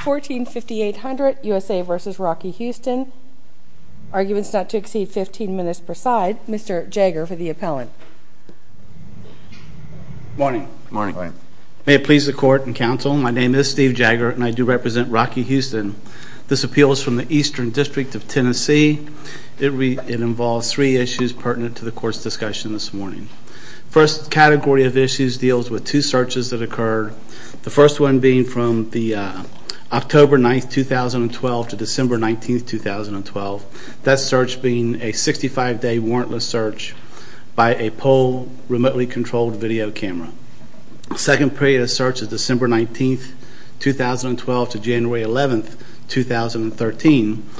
14-5800, USA v. Rocky Houston. Arguments not to exceed 15 minutes per side. Mr. Jagger for the appellant. Morning. May it please the court and counsel, my name is Steve Jagger and I do represent Rocky Houston. This appeal is from the Eastern District of Tennessee. It involves three issues pertinent to the court's discussion this morning. The first category of issues deals with two searches that occurred. The first one being from October 9, 2012 to December 19, 2012. That search being a 65 day warrantless search by a pole remotely controlled video camera. The second period of search is December 19, 2012 to January 11, 2013.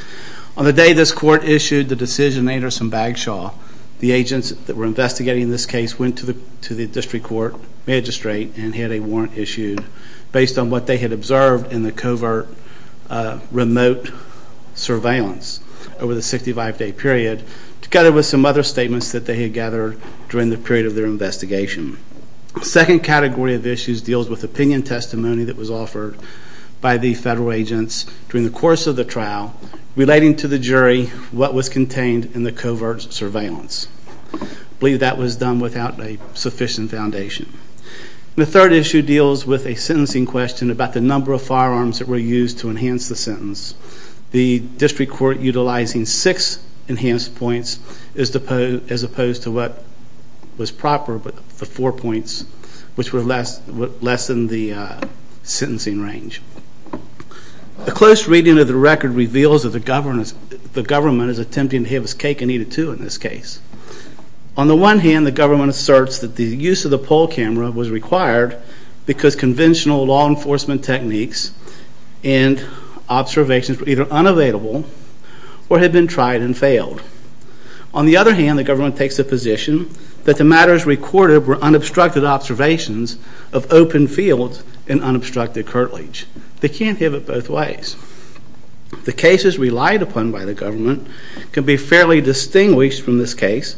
On the day this court issued the decision, Anderson Bagshaw, the agents that were investigating this case went to the district court magistrate and had a warrant issued based on what they had observed in the covert remote surveillance over the 65 day period. Together with some other statements that they had gathered during the period of their investigation. The second category of issues deals with opinion testimony that was offered by the federal agents during the course of the trial relating to the jury what was contained in the covert surveillance. I believe that was done without a sufficient foundation. The third issue deals with a sentencing question about the number of firearms that were used to enhance the sentence. The district court utilizing six enhanced points as opposed to what was proper, the four points, which were less than the sentencing range. A close reading of the record reveals that the government is attempting to have its cake and eat it too in this case. On the one hand, the government asserts that the use of the pole camera was required because conventional law enforcement techniques and observations were either unavailable or had been tried and failed. On the other hand, the government takes the position that the matters recorded were unobstructed observations of open fields and unobstructed curtilage. They can't have it both ways. The cases relied upon by the government can be fairly distinguished from this case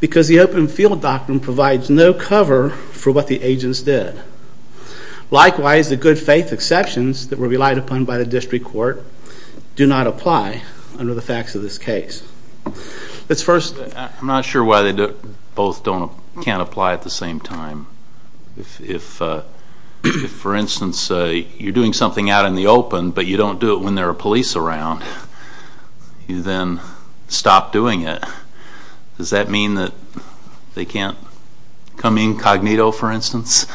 because the open field doctrine provides no cover for what the agents did. Likewise, the good faith exceptions that were relied upon by the district court do not apply under the facts of this case. Let's first... I'm not sure why they both can't apply at the same time. If, for instance, you're doing something out in the open but you don't do it when there are police around, you then stop doing it. Does that mean that they can't come incognito, for instance?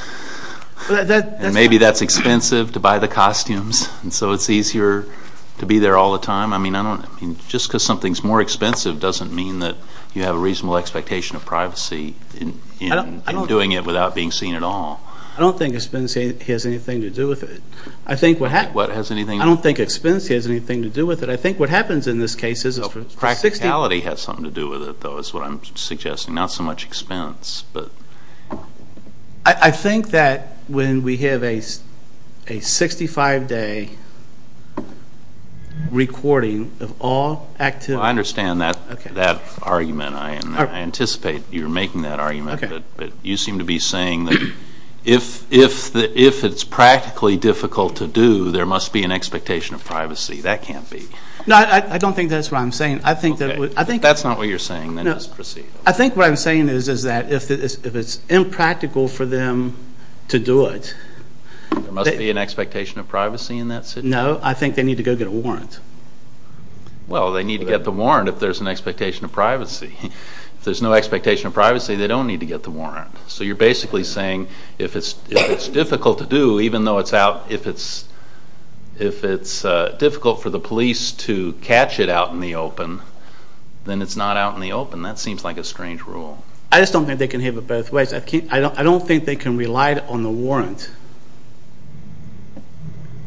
And maybe that's expensive to buy the costumes and so it's easier to be there all the time? I mean, just because something's more expensive doesn't mean that you have a reasonable expectation of privacy in doing it without being seen at all. I don't think expense has anything to do with it. I don't think expense has anything to do with it. I think what happens in this case is... Practicality has something to do with it, though, is what I'm suggesting, not so much expense. I think that when we have a 65-day recording of all activities... I understand that argument. I anticipate you're making that argument. But you seem to be saying that if it's practically difficult to do, there must be an expectation of privacy. That can't be. No, I don't think that's what I'm saying. If that's not what you're saying, then just proceed. I think what I'm saying is that if it's impractical for them to do it... There must be an expectation of privacy in that situation? No, I think they need to go get a warrant. If there's no expectation of privacy, they don't need to get the warrant. So you're basically saying if it's difficult to do, even though it's out... If it's difficult for the police to catch it out in the open, then it's not out in the open. That seems like a strange rule. I just don't think they can have it both ways. I don't think they can rely on the warrant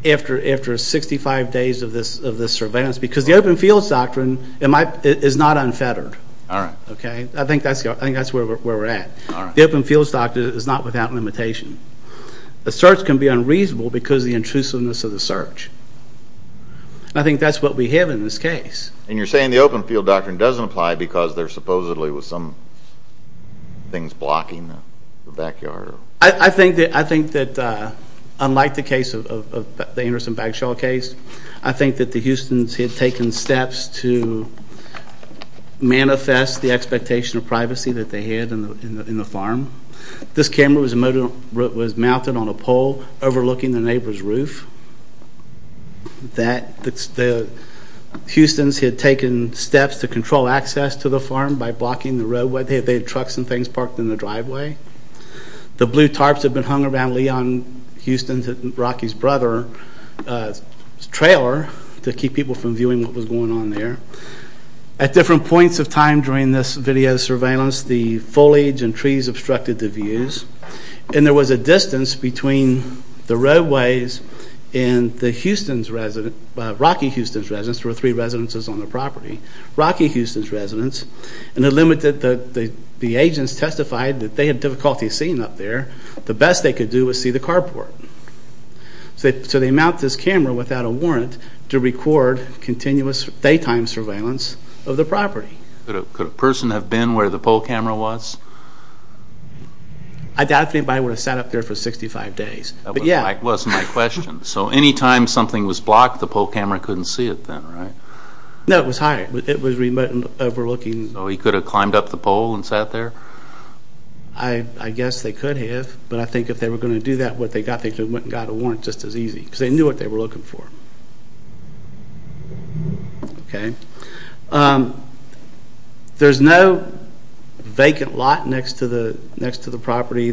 after 65 days of this surveillance, because the Open Fields Doctrine is not unfettered. I think that's where we're at. The Open Fields Doctrine is not without limitation. A search can be unreasonable because of the intrusiveness of the search. I think that's what we have in this case. And you're saying the Open Field Doctrine doesn't apply because there's supposedly some things blocking the backyard? I think that unlike the case of the Anderson Bagshaw case, I think that the Houstons had taken steps to manifest the expectation of privacy that they had in the farm. This camera was mounted on a pole overlooking the neighbor's roof. The Houstons had taken steps to control access to the farm by blocking the roadway. They had trucks and things parked in the driveway. The blue tarps had been hung around Leon Houston's and Rocky's brother's trailer to keep people from viewing what was going on there. At different points of time during this video surveillance, the foliage and trees obstructed the views, and there was a distance between the roadways and the Houston's residents, Rocky Houston's residents, there were three residences on the property, Rocky Houston's residents, and the agents testified that they had difficulty seeing up there. The best they could do was see the carport. So they mounted this camera without a warrant to record continuous daytime surveillance of the property. Could a person have been where the pole camera was? I doubt anybody would have sat up there for 65 days. That wasn't my question. So any time something was blocked, the pole camera couldn't see it then, right? No, it was higher. It was remote and overlooking. So he could have climbed up the pole and sat there? I guess they could have, but I think if they were going to do that, what they got, they could have went and got a warrant just as easy, because they knew what they were looking for. Okay. There's no vacant lot next to the property.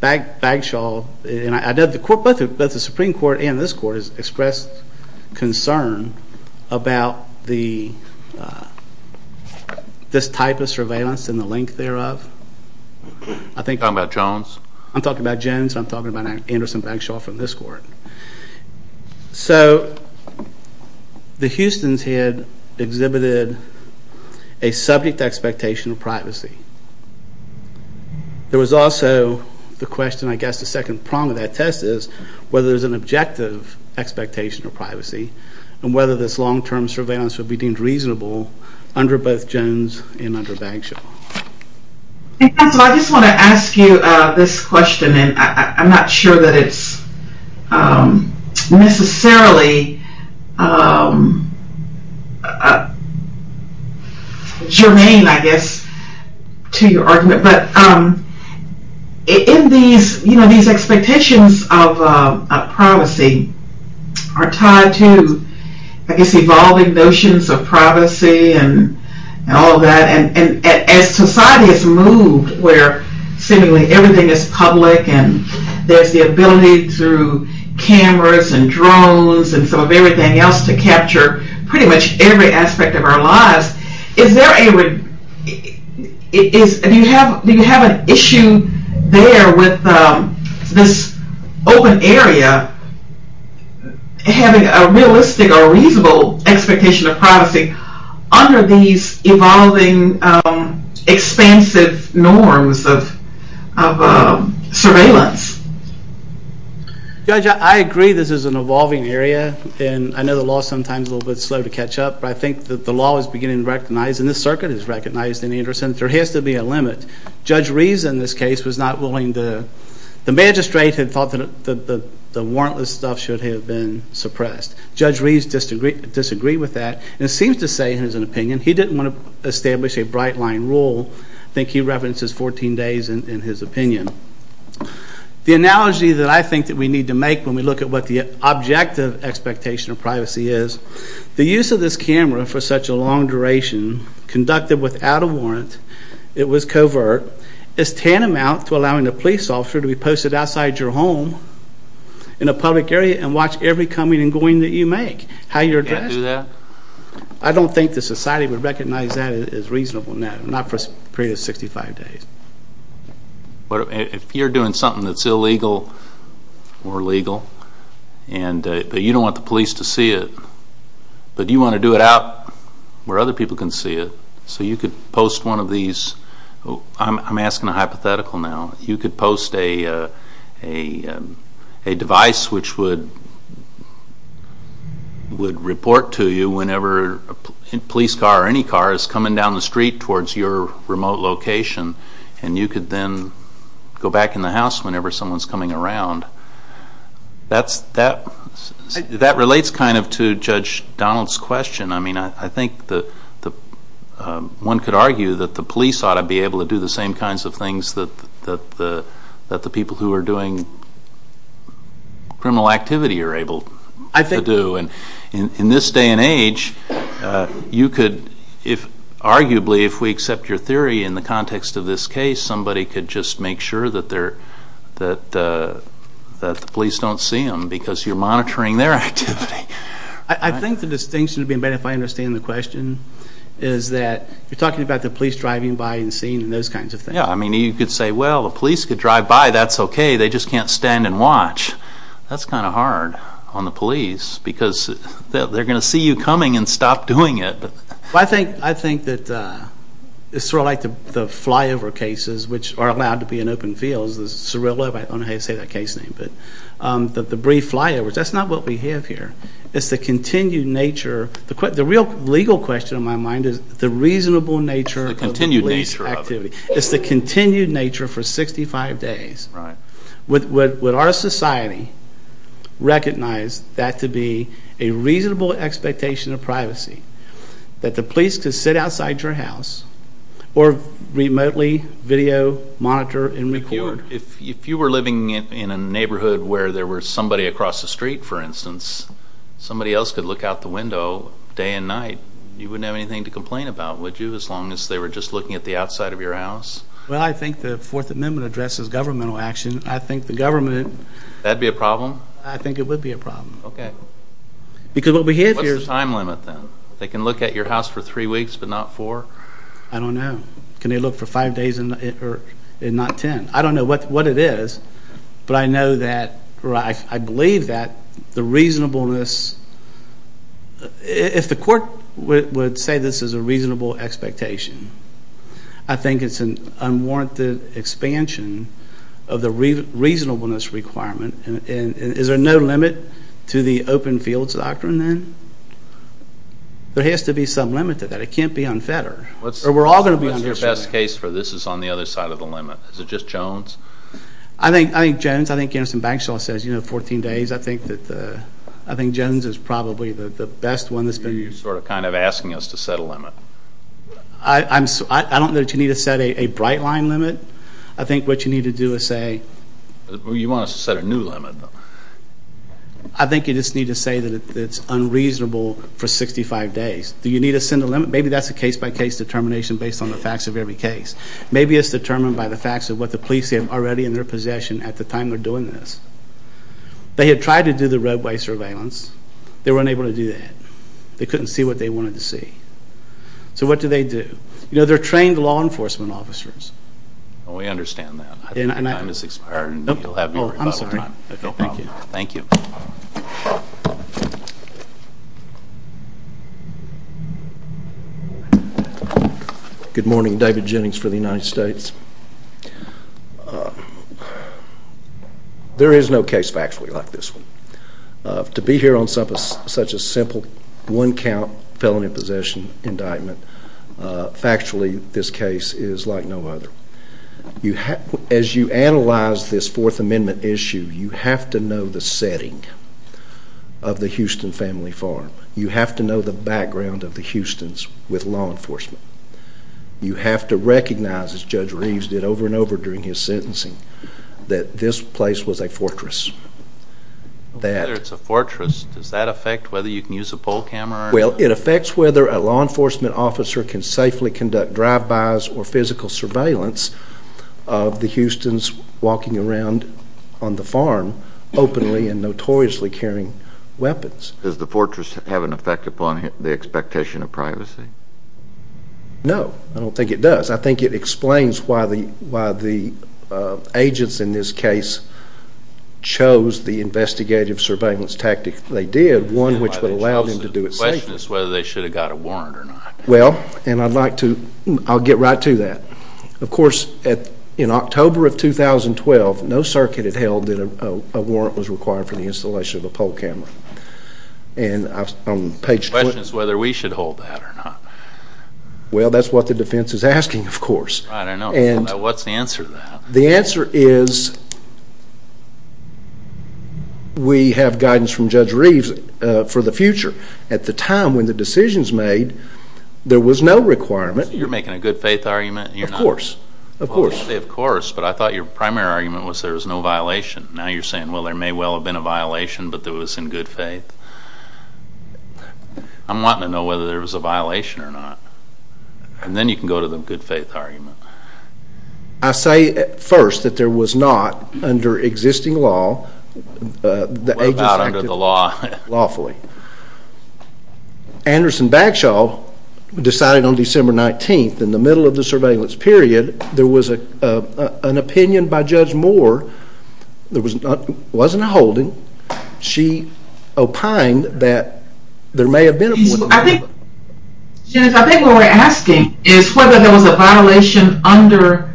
Bagshaw, both the Supreme Court and this Court has expressed concern about this type of surveillance and the length thereof. Are you talking about Jones? I'm talking about Jones and I'm talking about Anderson Bagshaw from this Court. So the Houstons had exhibited a subject expectation of privacy. There was also the question, I guess, the second prong of that test is whether there's an objective expectation of privacy and whether this long-term surveillance would be deemed reasonable under both Jones and under Bagshaw. I just want to ask you this question, and I'm not sure that it's necessarily germane, I guess, to your argument, but in these expectations of privacy are tied to, I guess, evolving notions of privacy and all of that, and as society has moved where seemingly everything is public and there's the ability through cameras and drones and some of everything else to capture pretty much every aspect of our lives, do you have an issue there with this open area having a realistic or reasonable expectation of privacy under these evolving expansive norms of surveillance? Judge, I agree this is an evolving area, and I know the law is sometimes a little bit slow to catch up, but I think that the law is beginning to recognize, and this circuit has recognized in Anderson, that there has to be a limit. Judge Reeves in this case was not willing to... The magistrate had thought that the warrantless stuff should have been suppressed. Judge Reeves disagreed with that and seems to say, in his opinion, he didn't want to establish a bright-line rule. I think he references 14 days in his opinion. The analogy that I think that we need to make when we look at what the objective expectation of privacy is, the use of this camera for such a long duration, conducted without a warrant, it was covert, is tantamount to allowing a police officer to be posted outside your home in a public area and watch every coming and going that you make, how you're addressed. Can't do that? I don't think the society would recognize that as reasonable now, not for a period of 65 days. If you're doing something that's illegal or legal, but you don't want the police to see it, but you want to do it out where other people can see it, so you could post one of these... I'm asking a hypothetical now. You could post a device which would report to you whenever a police car or any car is coming down the street towards your remote location, and you could then go back in the house whenever someone's coming around. That relates kind of to Judge Donald's question. I mean, I think one could argue that the police ought to be able to do the same kinds of things that the people who are doing criminal activity are able to do. In this day and age, you could, arguably, if we accept your theory in the context of this case, somebody could just make sure that the police don't see them because you're monitoring their activity. I think the distinction would be, and Ben, if I understand the question, is that you're talking about the police driving by and seeing and those kinds of things. Yeah, I mean, you could say, well, the police could drive by. That's okay. They just can't stand and watch. That's kind of hard on the police because they're going to see you coming and stop doing it. I think that it's sort of like the flyover cases which are allowed to be in open fields, the Cirilla, I don't know how you say that case name, but the brief flyovers, that's not what we have here. It's the continued nature. The real legal question in my mind is the reasonable nature of the police activity. It's the continued nature for 65 days. Would our society recognize that to be a reasonable expectation of privacy, that the police could sit outside your house or remotely video, monitor, and record? If you were living in a neighborhood where there was somebody across the street, for instance, somebody else could look out the window day and night, you wouldn't have anything to complain about, would you, as long as they were just looking at the outside of your house? Well, I think the Fourth Amendment addresses governmental action. I think the government... That would be a problem? I think it would be a problem. Okay. Because what we have here is... What's the time limit then? They can look at your house for three weeks but not four? I don't know. Can they look for five days and not ten? I don't know what it is, but I know that or I believe that the reasonableness... If the court would say this is a reasonable expectation, I think it's an unwarranted expansion of the reasonableness requirement. Is there no limit to the open fields doctrine then? There has to be some limit to that. It can't be unfettered. Or we're all going to be under... What's your best case for this is on the other side of the limit? Is it just Jones? I think Jones. I think Garrison Bankshaw says, you know, 14 days. I think Jones is probably the best one that's been... You're sort of kind of asking us to set a limit. I don't know that you need to set a bright line limit. I think what you need to do is say... You want us to set a new limit. I think you just need to say that it's unreasonable for 65 days. Do you need to send a limit? Maybe that's a case-by-case determination based on the facts of every case. Maybe it's determined by the facts of what the police have already in their possession at the time they're doing this. They had tried to do the roadway surveillance. They were unable to do that. They couldn't see what they wanted to see. So what do they do? You know, they're trained law enforcement officers. We understand that. I think your time has expired and you'll have to recover. I'm sorry. No problem. Thank you. Thank you. Good morning. David Jennings for the United States. There is no case factually like this one. To be here on such a simple one-count felony possession indictment, factually this case is like no other. As you analyze this Fourth Amendment issue, you have to know the setting of the Houston family farm. You have to know the background of the Houstons with law enforcement. You have to recognize, as Judge Reeves did over and over during his sentencing, that this place was a fortress. Whether it's a fortress, does that affect whether you can use a pole camera? Well, it affects whether a law enforcement officer can safely conduct drive-bys or physical surveillance of the Houstons walking around on the farm openly and notoriously carrying weapons. Does the fortress have an effect upon the expectation of privacy? No, I don't think it does. I think it explains why the agents in this case chose the investigative surveillance tactic they did, one which would allow them to do it safely. The question is whether they should have got a warrant or not. Well, I'll get right to that. Of course, in October of 2012, no circuit had held that a warrant was required for the installation of a pole camera. The question is whether we should hold that or not. Well, that's what the defense is asking, of course. Right, I know. What's the answer to that? The answer is we have guidance from Judge Reeves for the future. At the time when the decisions were made, there was no requirement. You're making a good-faith argument? Of course. Of course. Of course, but I thought your primary argument was there was no violation. Now you're saying, well, there may well have been a violation, but it was in good faith. I'm wanting to know whether there was a violation or not. And then you can go to the good-faith argument. I say first that there was not under existing law. What about under the law? Lawfully. Anderson Bagshaw decided on December 19th, in the middle of the surveillance period, there was an opinion by Judge Moore. There wasn't a holding. She opined that there may have been a violation. I think what we're asking is whether there was a violation under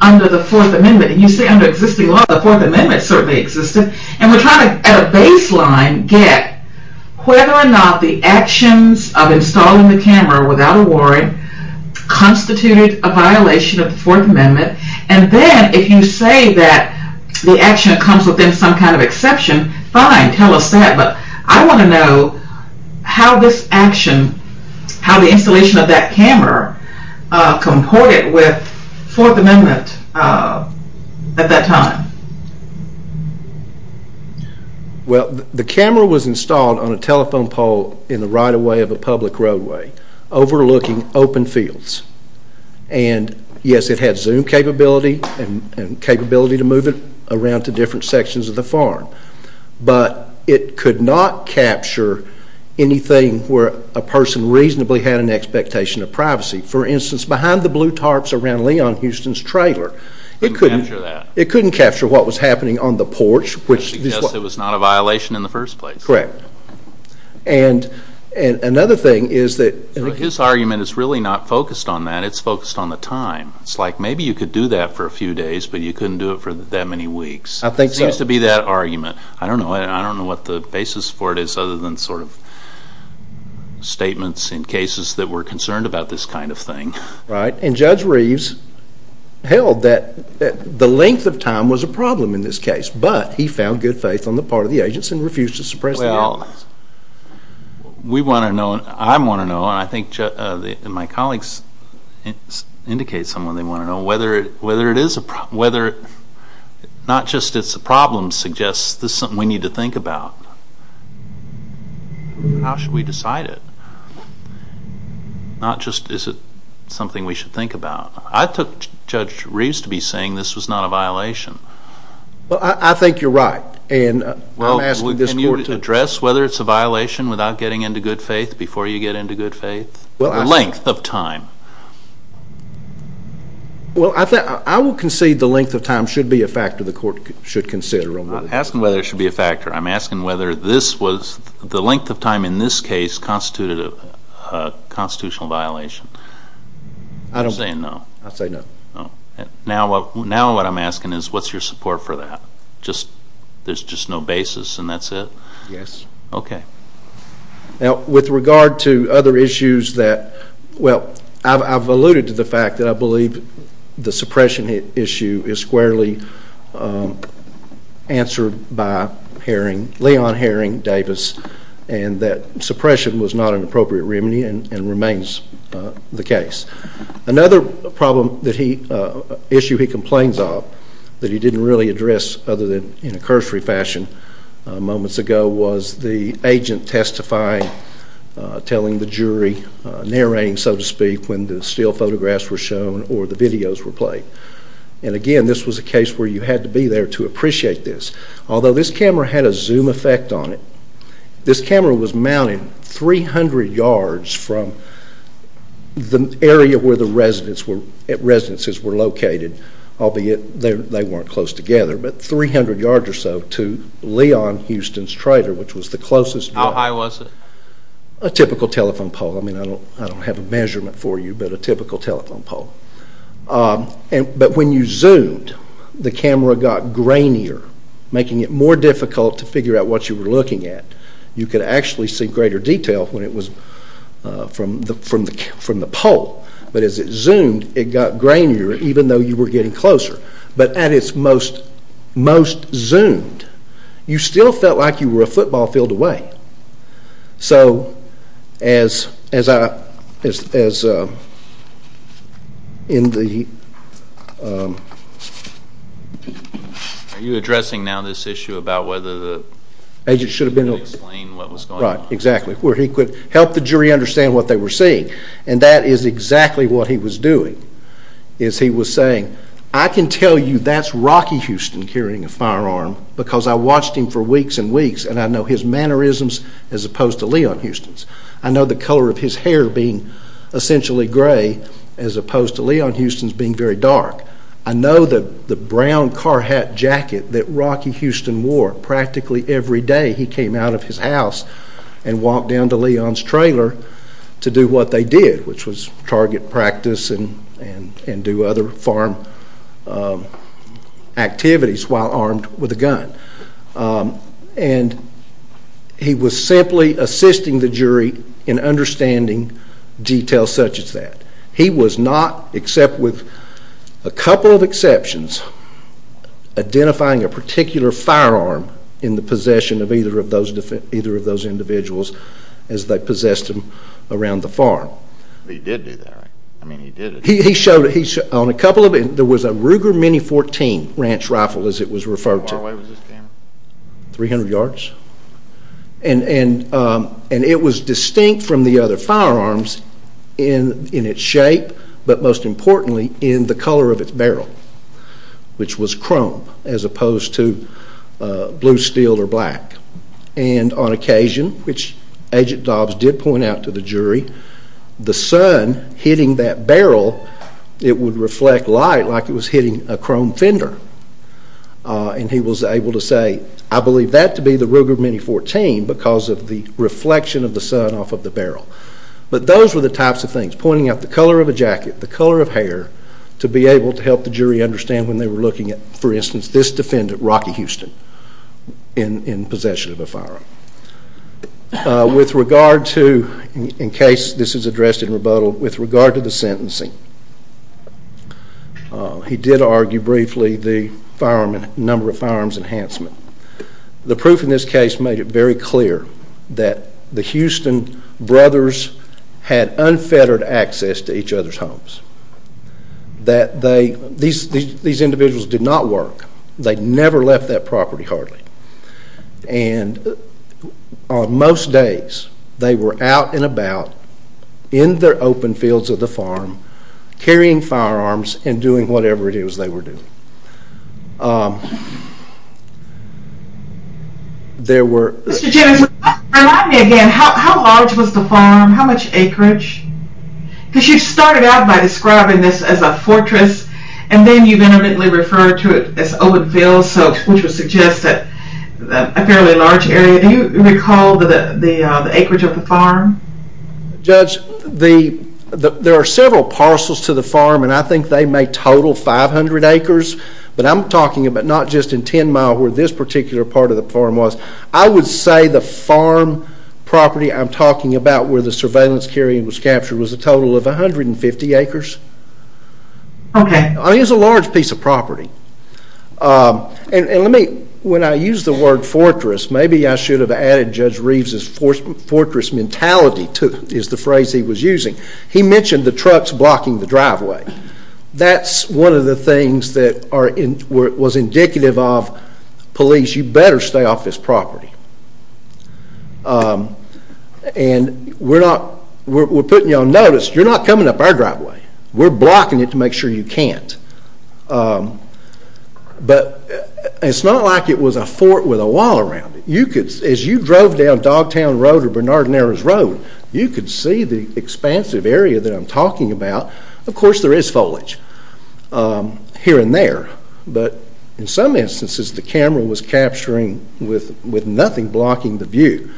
the Fourth Amendment. And you say under existing law, the Fourth Amendment certainly existed. And we're trying to, at a baseline, get whether or not the actions of installing the camera without a warrant constituted a violation of the Fourth Amendment. And then if you say that the action comes within some kind of exception, fine, tell us that. But I want to know how this action, how the installation of that camera, comported with Fourth Amendment at that time. Well, the camera was installed on a telephone pole in the right-of-way of a public roadway, overlooking open fields. And yes, it had Zoom capability and capability to move it around to different sections of the farm. But it could not capture anything where a person reasonably had an expectation of privacy. For instance, behind the blue tarps around Leon Houston's trailer. It couldn't capture what was happening on the porch. Because it was not a violation in the first place. Correct. And another thing is that... His argument is really not focused on that. It's focused on the time. It's like maybe you could do that for a few days, but you couldn't do it for that many weeks. I think so. It seems to be that argument. I don't know. I don't know what the basis for it is other than sort of statements in cases that were concerned about this kind of thing. Right. And Judge Reeves held that the length of time was a problem in this case. But he found good faith on the part of the agents and refused to suppress the evidence. Well, we want to know and I want to know, and I think my colleagues indicate someone they want to know, whether not just it's a problem suggests this is something we need to think about. How should we decide it? Not just is it something we should think about. I took Judge Reeves to be saying this was not a violation. Well, I think you're right. And I'm asking this court to... Can you address whether it's a violation without getting into good faith before you get into good faith? The length of time. Well, I will concede the length of time should be a factor the court should consider. I'm not asking whether it should be a factor. I'm asking whether the length of time in this case constituted a constitutional violation. I don't say no. I say no. Now what I'm asking is what's your support for that? There's just no basis and that's it? Yes. Okay. Now with regard to other issues that, well, I've alluded to the fact that I believe the suppression issue is squarely answered by Leon Herring Davis and that suppression was not an appropriate remedy and remains the case. Another issue he complains of that he didn't really address other than in a cursory fashion moments ago was the agent testifying, telling the jury, narrating, so to speak, when the still photographs were shown or the videos were played. And, again, this was a case where you had to be there to appreciate this. Although this camera had a zoom effect on it, this camera was mounted 300 yards from the area where the residences were located, albeit they weren't close together, but 300 yards or so to Leon Houston's trailer, which was the closest. How high was it? A typical telephone pole. I mean, I don't have a measurement for you, but a typical telephone pole. But when you zoomed, the camera got grainier, making it more difficult to figure out what you were looking at. You could actually see greater detail when it was from the pole. But as it zoomed, it got grainier, even though you were getting closer. But at its most zoomed, you still felt like you were a football field away. Are you addressing now this issue about whether the agent should have been able to explain what was going on? That's right, exactly, where he could help the jury understand what they were seeing. And that is exactly what he was doing. He was saying, I can tell you that's Rocky Houston carrying a firearm because I watched him for weeks and weeks, and I know his mannerisms as opposed to Leon Houston's. I know the color of his hair being essentially gray as opposed to Leon Houston's being very dark. I know the brown car hat jacket that Rocky Houston wore practically every day. He came out of his house and walked down to Leon's trailer to do what they did, which was target practice and do other farm activities while armed with a gun. And he was simply assisting the jury in understanding details such as that. He was not, except with a couple of exceptions, identifying a particular firearm in the possession of either of those individuals as they possessed him around the farm. He did do that, right? I mean, he did it. He showed it. There was a Ruger Mini-14 Ranch Rifle, as it was referred to. How far away was this camera? 300 yards? And it was distinct from the other firearms in its shape, but most importantly in the color of its barrel, which was chrome as opposed to blue steel or black. And on occasion, which Agent Dobbs did point out to the jury, the sun hitting that barrel, it would reflect light like it was hitting a chrome fender. And he was able to say, I believe that to be the Ruger Mini-14 because of the reflection of the sun off of the barrel. But those were the types of things, pointing out the color of a jacket, the color of hair, to be able to help the jury understand when they were looking at, for instance, this defendant, Rocky Houston, in possession of a firearm. With regard to, in case this is addressed in rebuttal, with regard to the sentencing, he did argue briefly the number of firearms enhancement. The proof in this case made it very clear that the Houston brothers had unfettered access to each other's homes. That these individuals did not work. They never left that property hardly. And on most days, they were out and about in the open fields of the farm, carrying firearms and doing whatever it is they were doing. There were... Mr. Jennings, remind me again, how large was the farm? How much acreage? Because you started out by describing this as a fortress, and then you intimately referred to it as open fields, which would suggest that a fairly large area. Do you recall the acreage of the farm? Judge, there are several parcels to the farm, and I think they may total 500 acres, but I'm talking about not just in 10 Mile where this particular part of the farm was. I would say the farm property I'm talking about where the surveillance carrying was captured was a total of 150 acres. Okay. It was a large piece of property. And let me... When I use the word fortress, maybe I should have added Judge Reeves' fortress mentality is the phrase he was using. He mentioned the trucks blocking the driveway. That's one of the things that was indicative of police. You better stay off this property. And we're putting you on notice. You're not coming up our driveway. We're blocking it to make sure you can't. But it's not like it was a fort with a wall around it. As you drove down Dogtown Road or Bernard Naira's Road, you could see the expansive area that I'm talking about. Of course, there is foliage here and there. But in some instances, the camera was capturing with nothing blocking the view.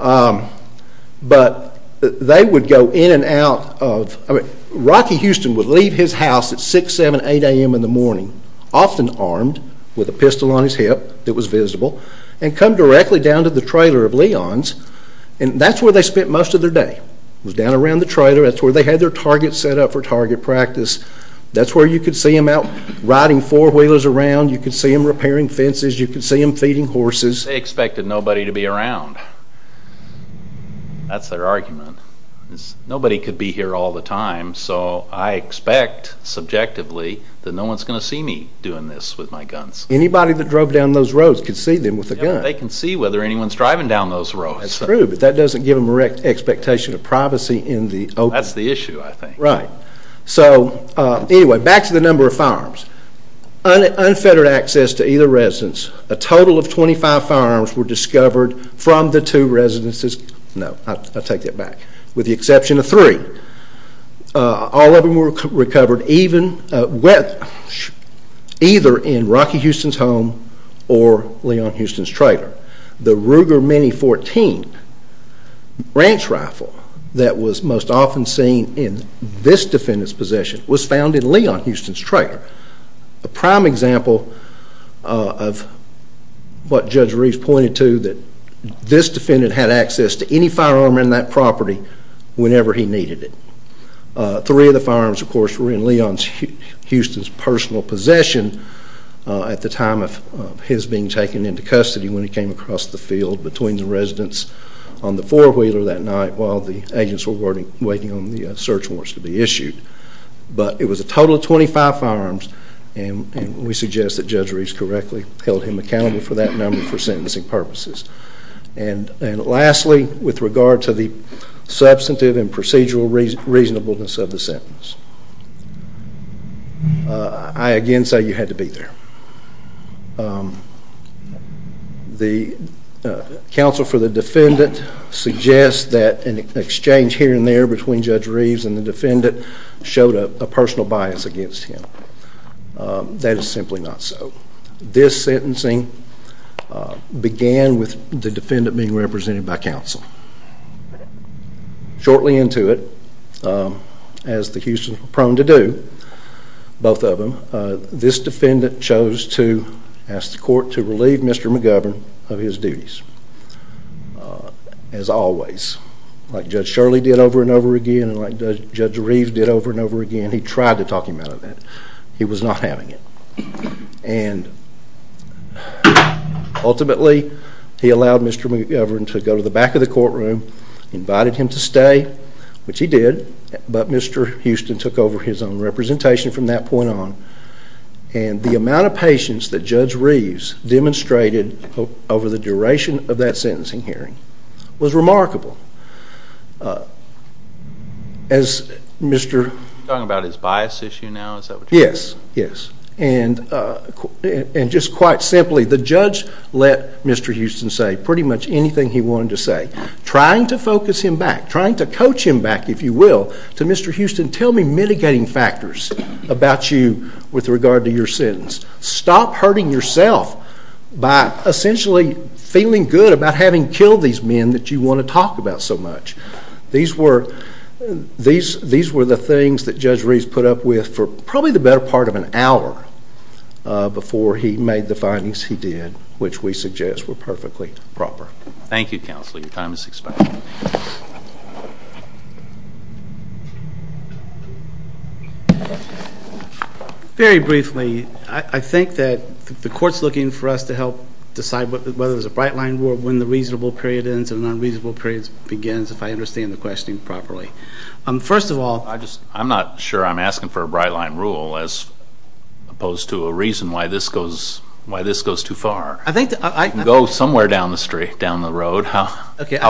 But they would go in and out of... often armed with a pistol on his hip that was visible and come directly down to the trailer of Leon's. And that's where they spent most of their day was down around the trailer. That's where they had their target set up for target practice. That's where you could see them out riding four-wheelers around. You could see them repairing fences. You could see them feeding horses. They expected nobody to be around. That's their argument. Nobody could be here all the time. So I expect, subjectively, that no one's going to see me doing this with my guns. Anybody that drove down those roads could see them with a gun. They can see whether anyone's driving down those roads. That's true, but that doesn't give them an expectation of privacy in the open. That's the issue, I think. Right. So, anyway, back to the number of firearms. Unfettered access to either residence. A total of 25 firearms were discovered from the two residences. No, I take that back. With the exception of three. All of them were recovered either in Rocky Houston's home or Leon Houston's trailer. The Ruger Mini-14 ranch rifle that was most often seen in this defendant's possession was found in Leon Houston's trailer. A prime example of what Judge Reeves pointed to, that this defendant had access to any firearm in that property whenever he needed it. Three of the firearms, of course, were in Leon Houston's personal possession at the time of his being taken into custody when he came across the field between the residence on the four-wheeler that night while the agents were waiting on the search warrants to be issued. But it was a total of 25 firearms, and we suggest that Judge Reeves correctly held him accountable for that number for sentencing purposes. And lastly, with regard to the substantive and procedural reasonableness of the sentence, I again say you had to be there. The counsel for the defendant suggests that an exchange here and there between Judge Reeves and the defendant showed a personal bias against him. That is simply not so. This sentencing began with the defendant being represented by counsel. Shortly into it, as the Houstons were prone to do, both of them, this defendant chose to ask the court to relieve Mr. McGovern of his duties. As always. Like Judge Shirley did over and over again, and like Judge Reeves did over and over again, he tried to talk him out of it. He was not having it. And ultimately, he allowed Mr. McGovern to go to the back of the courtroom, invited him to stay, which he did, but Mr. Houston took over his own representation from that point on. And the amount of patience that Judge Reeves demonstrated over the duration of that sentencing hearing was remarkable. As Mr. You're talking about his bias issue now? Yes. And just quite simply, the judge let Mr. Houston say pretty much anything he wanted to say. Trying to focus him back, trying to coach him back, if you will, to Mr. Houston, tell me mitigating factors about you with regard to your sentence. Stop hurting yourself by essentially feeling good about having killed these men that you want to talk about so much. These were the things that Judge Reeves put up with for probably the better part of an hour before he made the findings he did, which we suggest were perfectly proper. Thank you, counsel. Your time is expired. Very briefly, I think that the court's looking for us to help decide whether there's a bright line rule when the reasonable period ends and the unreasonable period begins, if I understand the question properly. First of all, I'm not sure I'm asking for a bright line rule as opposed to a reason why this goes too far. You can go somewhere down the street, down the road. How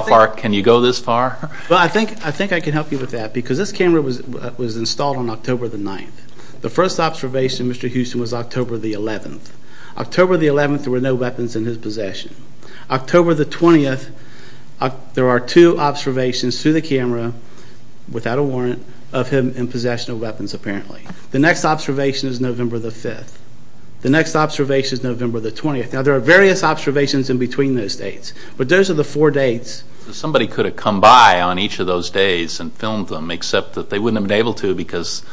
far can you go this far? Well, I think I can help you with that because this camera was installed on October the 9th. The first observation of Mr. Houston was October the 11th. October the 11th, there were no weapons in his possession. October the 20th, there are two observations through the camera, without a warrant, of him in possession of weapons apparently. The next observation is November the 5th. The next observation is November the 20th. Now, there are various observations in between those dates, but those are the four dates. Somebody could have come by on each of those days and filmed them, except that they wouldn't have been able to because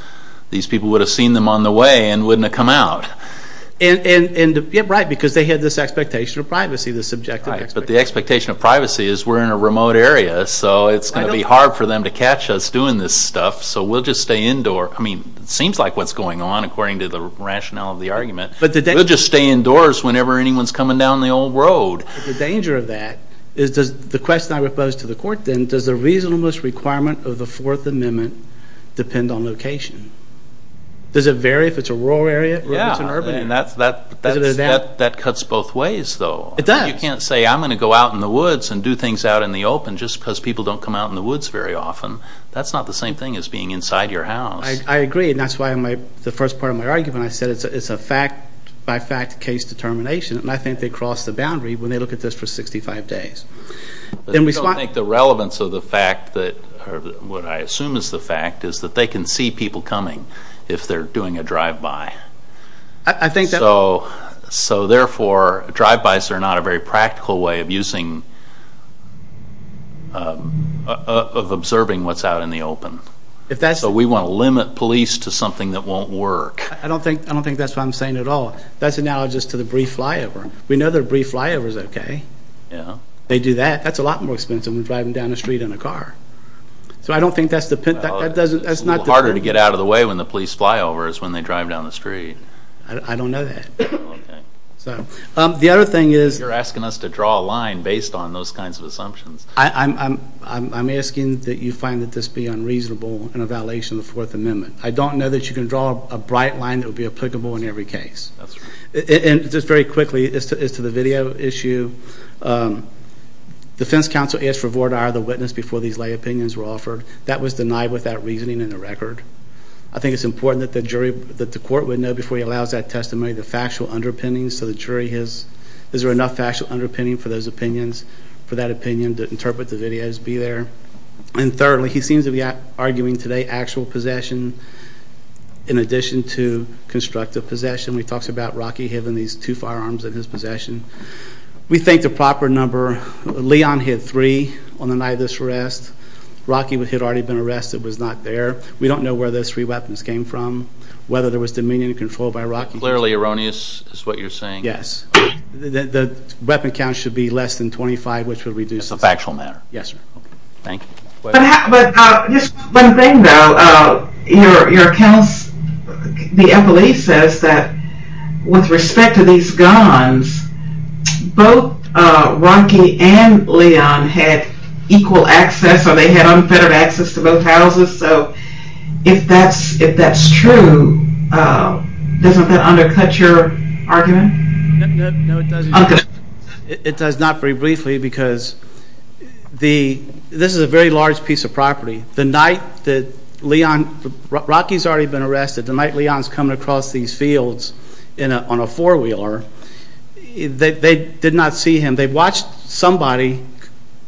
these people would have seen them on the way and wouldn't have come out. Right, because they had this expectation of privacy, this subjective expectation. Right, but the expectation of privacy is we're in a remote area, so it's going to be hard for them to catch us doing this stuff, so we'll just stay indoor. I mean, it seems like what's going on, according to the rationale of the argument. We'll just stay indoors whenever anyone's coming down the old road. The danger of that is the question I would pose to the court then, does the reasonableness requirement of the Fourth Amendment depend on location? Does it vary if it's a rural area or if it's an urban area? Yeah, that cuts both ways, though. It does. You can't say I'm going to go out in the woods and do things out in the open just because people don't come out in the woods very often. That's not the same thing as being inside your house. I agree, and that's why the first part of my argument, when I said it's a fact-by-fact case determination, and I think they cross the boundary when they look at this for 65 days. I don't think the relevance of the fact, or what I assume is the fact, is that they can see people coming if they're doing a drive-by. So, therefore, drive-bys are not a very practical way of observing what's out in the open. So we want to limit police to something that won't work. I don't think that's what I'm saying at all. That's analogous to the brief flyover. We know that a brief flyover is okay. They do that. That's a lot more expensive than driving down the street in a car. So I don't think that's the point. It's a little harder to get out of the way when the police fly over is when they drive down the street. I don't know that. The other thing is— You're asking us to draw a line based on those kinds of assumptions. I'm asking that you find that this be unreasonable and a violation of the Fourth Amendment. I don't know that you can draw a bright line that would be applicable in every case. And just very quickly, as to the video issue, defense counsel asked for a voir dire of the witness before these lay opinions were offered. That was denied without reasoning in the record. I think it's important that the court would know before he allows that testimony the factual underpinnings so the jury has—is there enough factual underpinning for those opinions, for that opinion to interpret the videos, be there. And thirdly, he seems to be arguing today actual possession in addition to constructive possession. He talks about Rocky having these two firearms in his possession. We think the proper number—Leon hit three on the night of this arrest. Rocky had already been arrested, was not there. We don't know where those three weapons came from, whether there was dominion and control by Rocky. Clearly erroneous is what you're saying. Yes. The weapon count should be less than 25, which would reduce— It's a factual matter. Yes, sir. Thank you. But just one thing, though. Your counsel, the MLA, says that with respect to these guns, both Rocky and Leon had equal access or they had unfettered access to both houses. So if that's true, doesn't that undercut your argument? No, it doesn't. It does not, very briefly, because this is a very large piece of property. The night that Leon—Rocky's already been arrested. The night Leon's coming across these fields on a four-wheeler, they did not see him. They watched somebody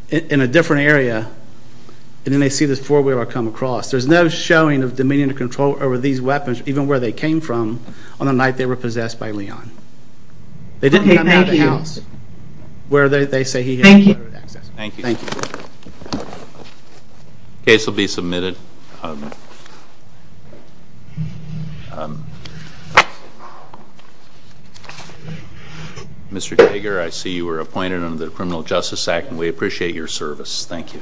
in a different area, and then they see this four-wheeler come across. There's no showing of dominion or control over these weapons, even where they came from, on the night they were possessed by Leon. They didn't come out of the house where they say he had unfettered access. Thank you. Thank you. The case will be submitted. Mr. Kager, I see you were appointed under the Criminal Justice Act, and we appreciate your service. Thank you.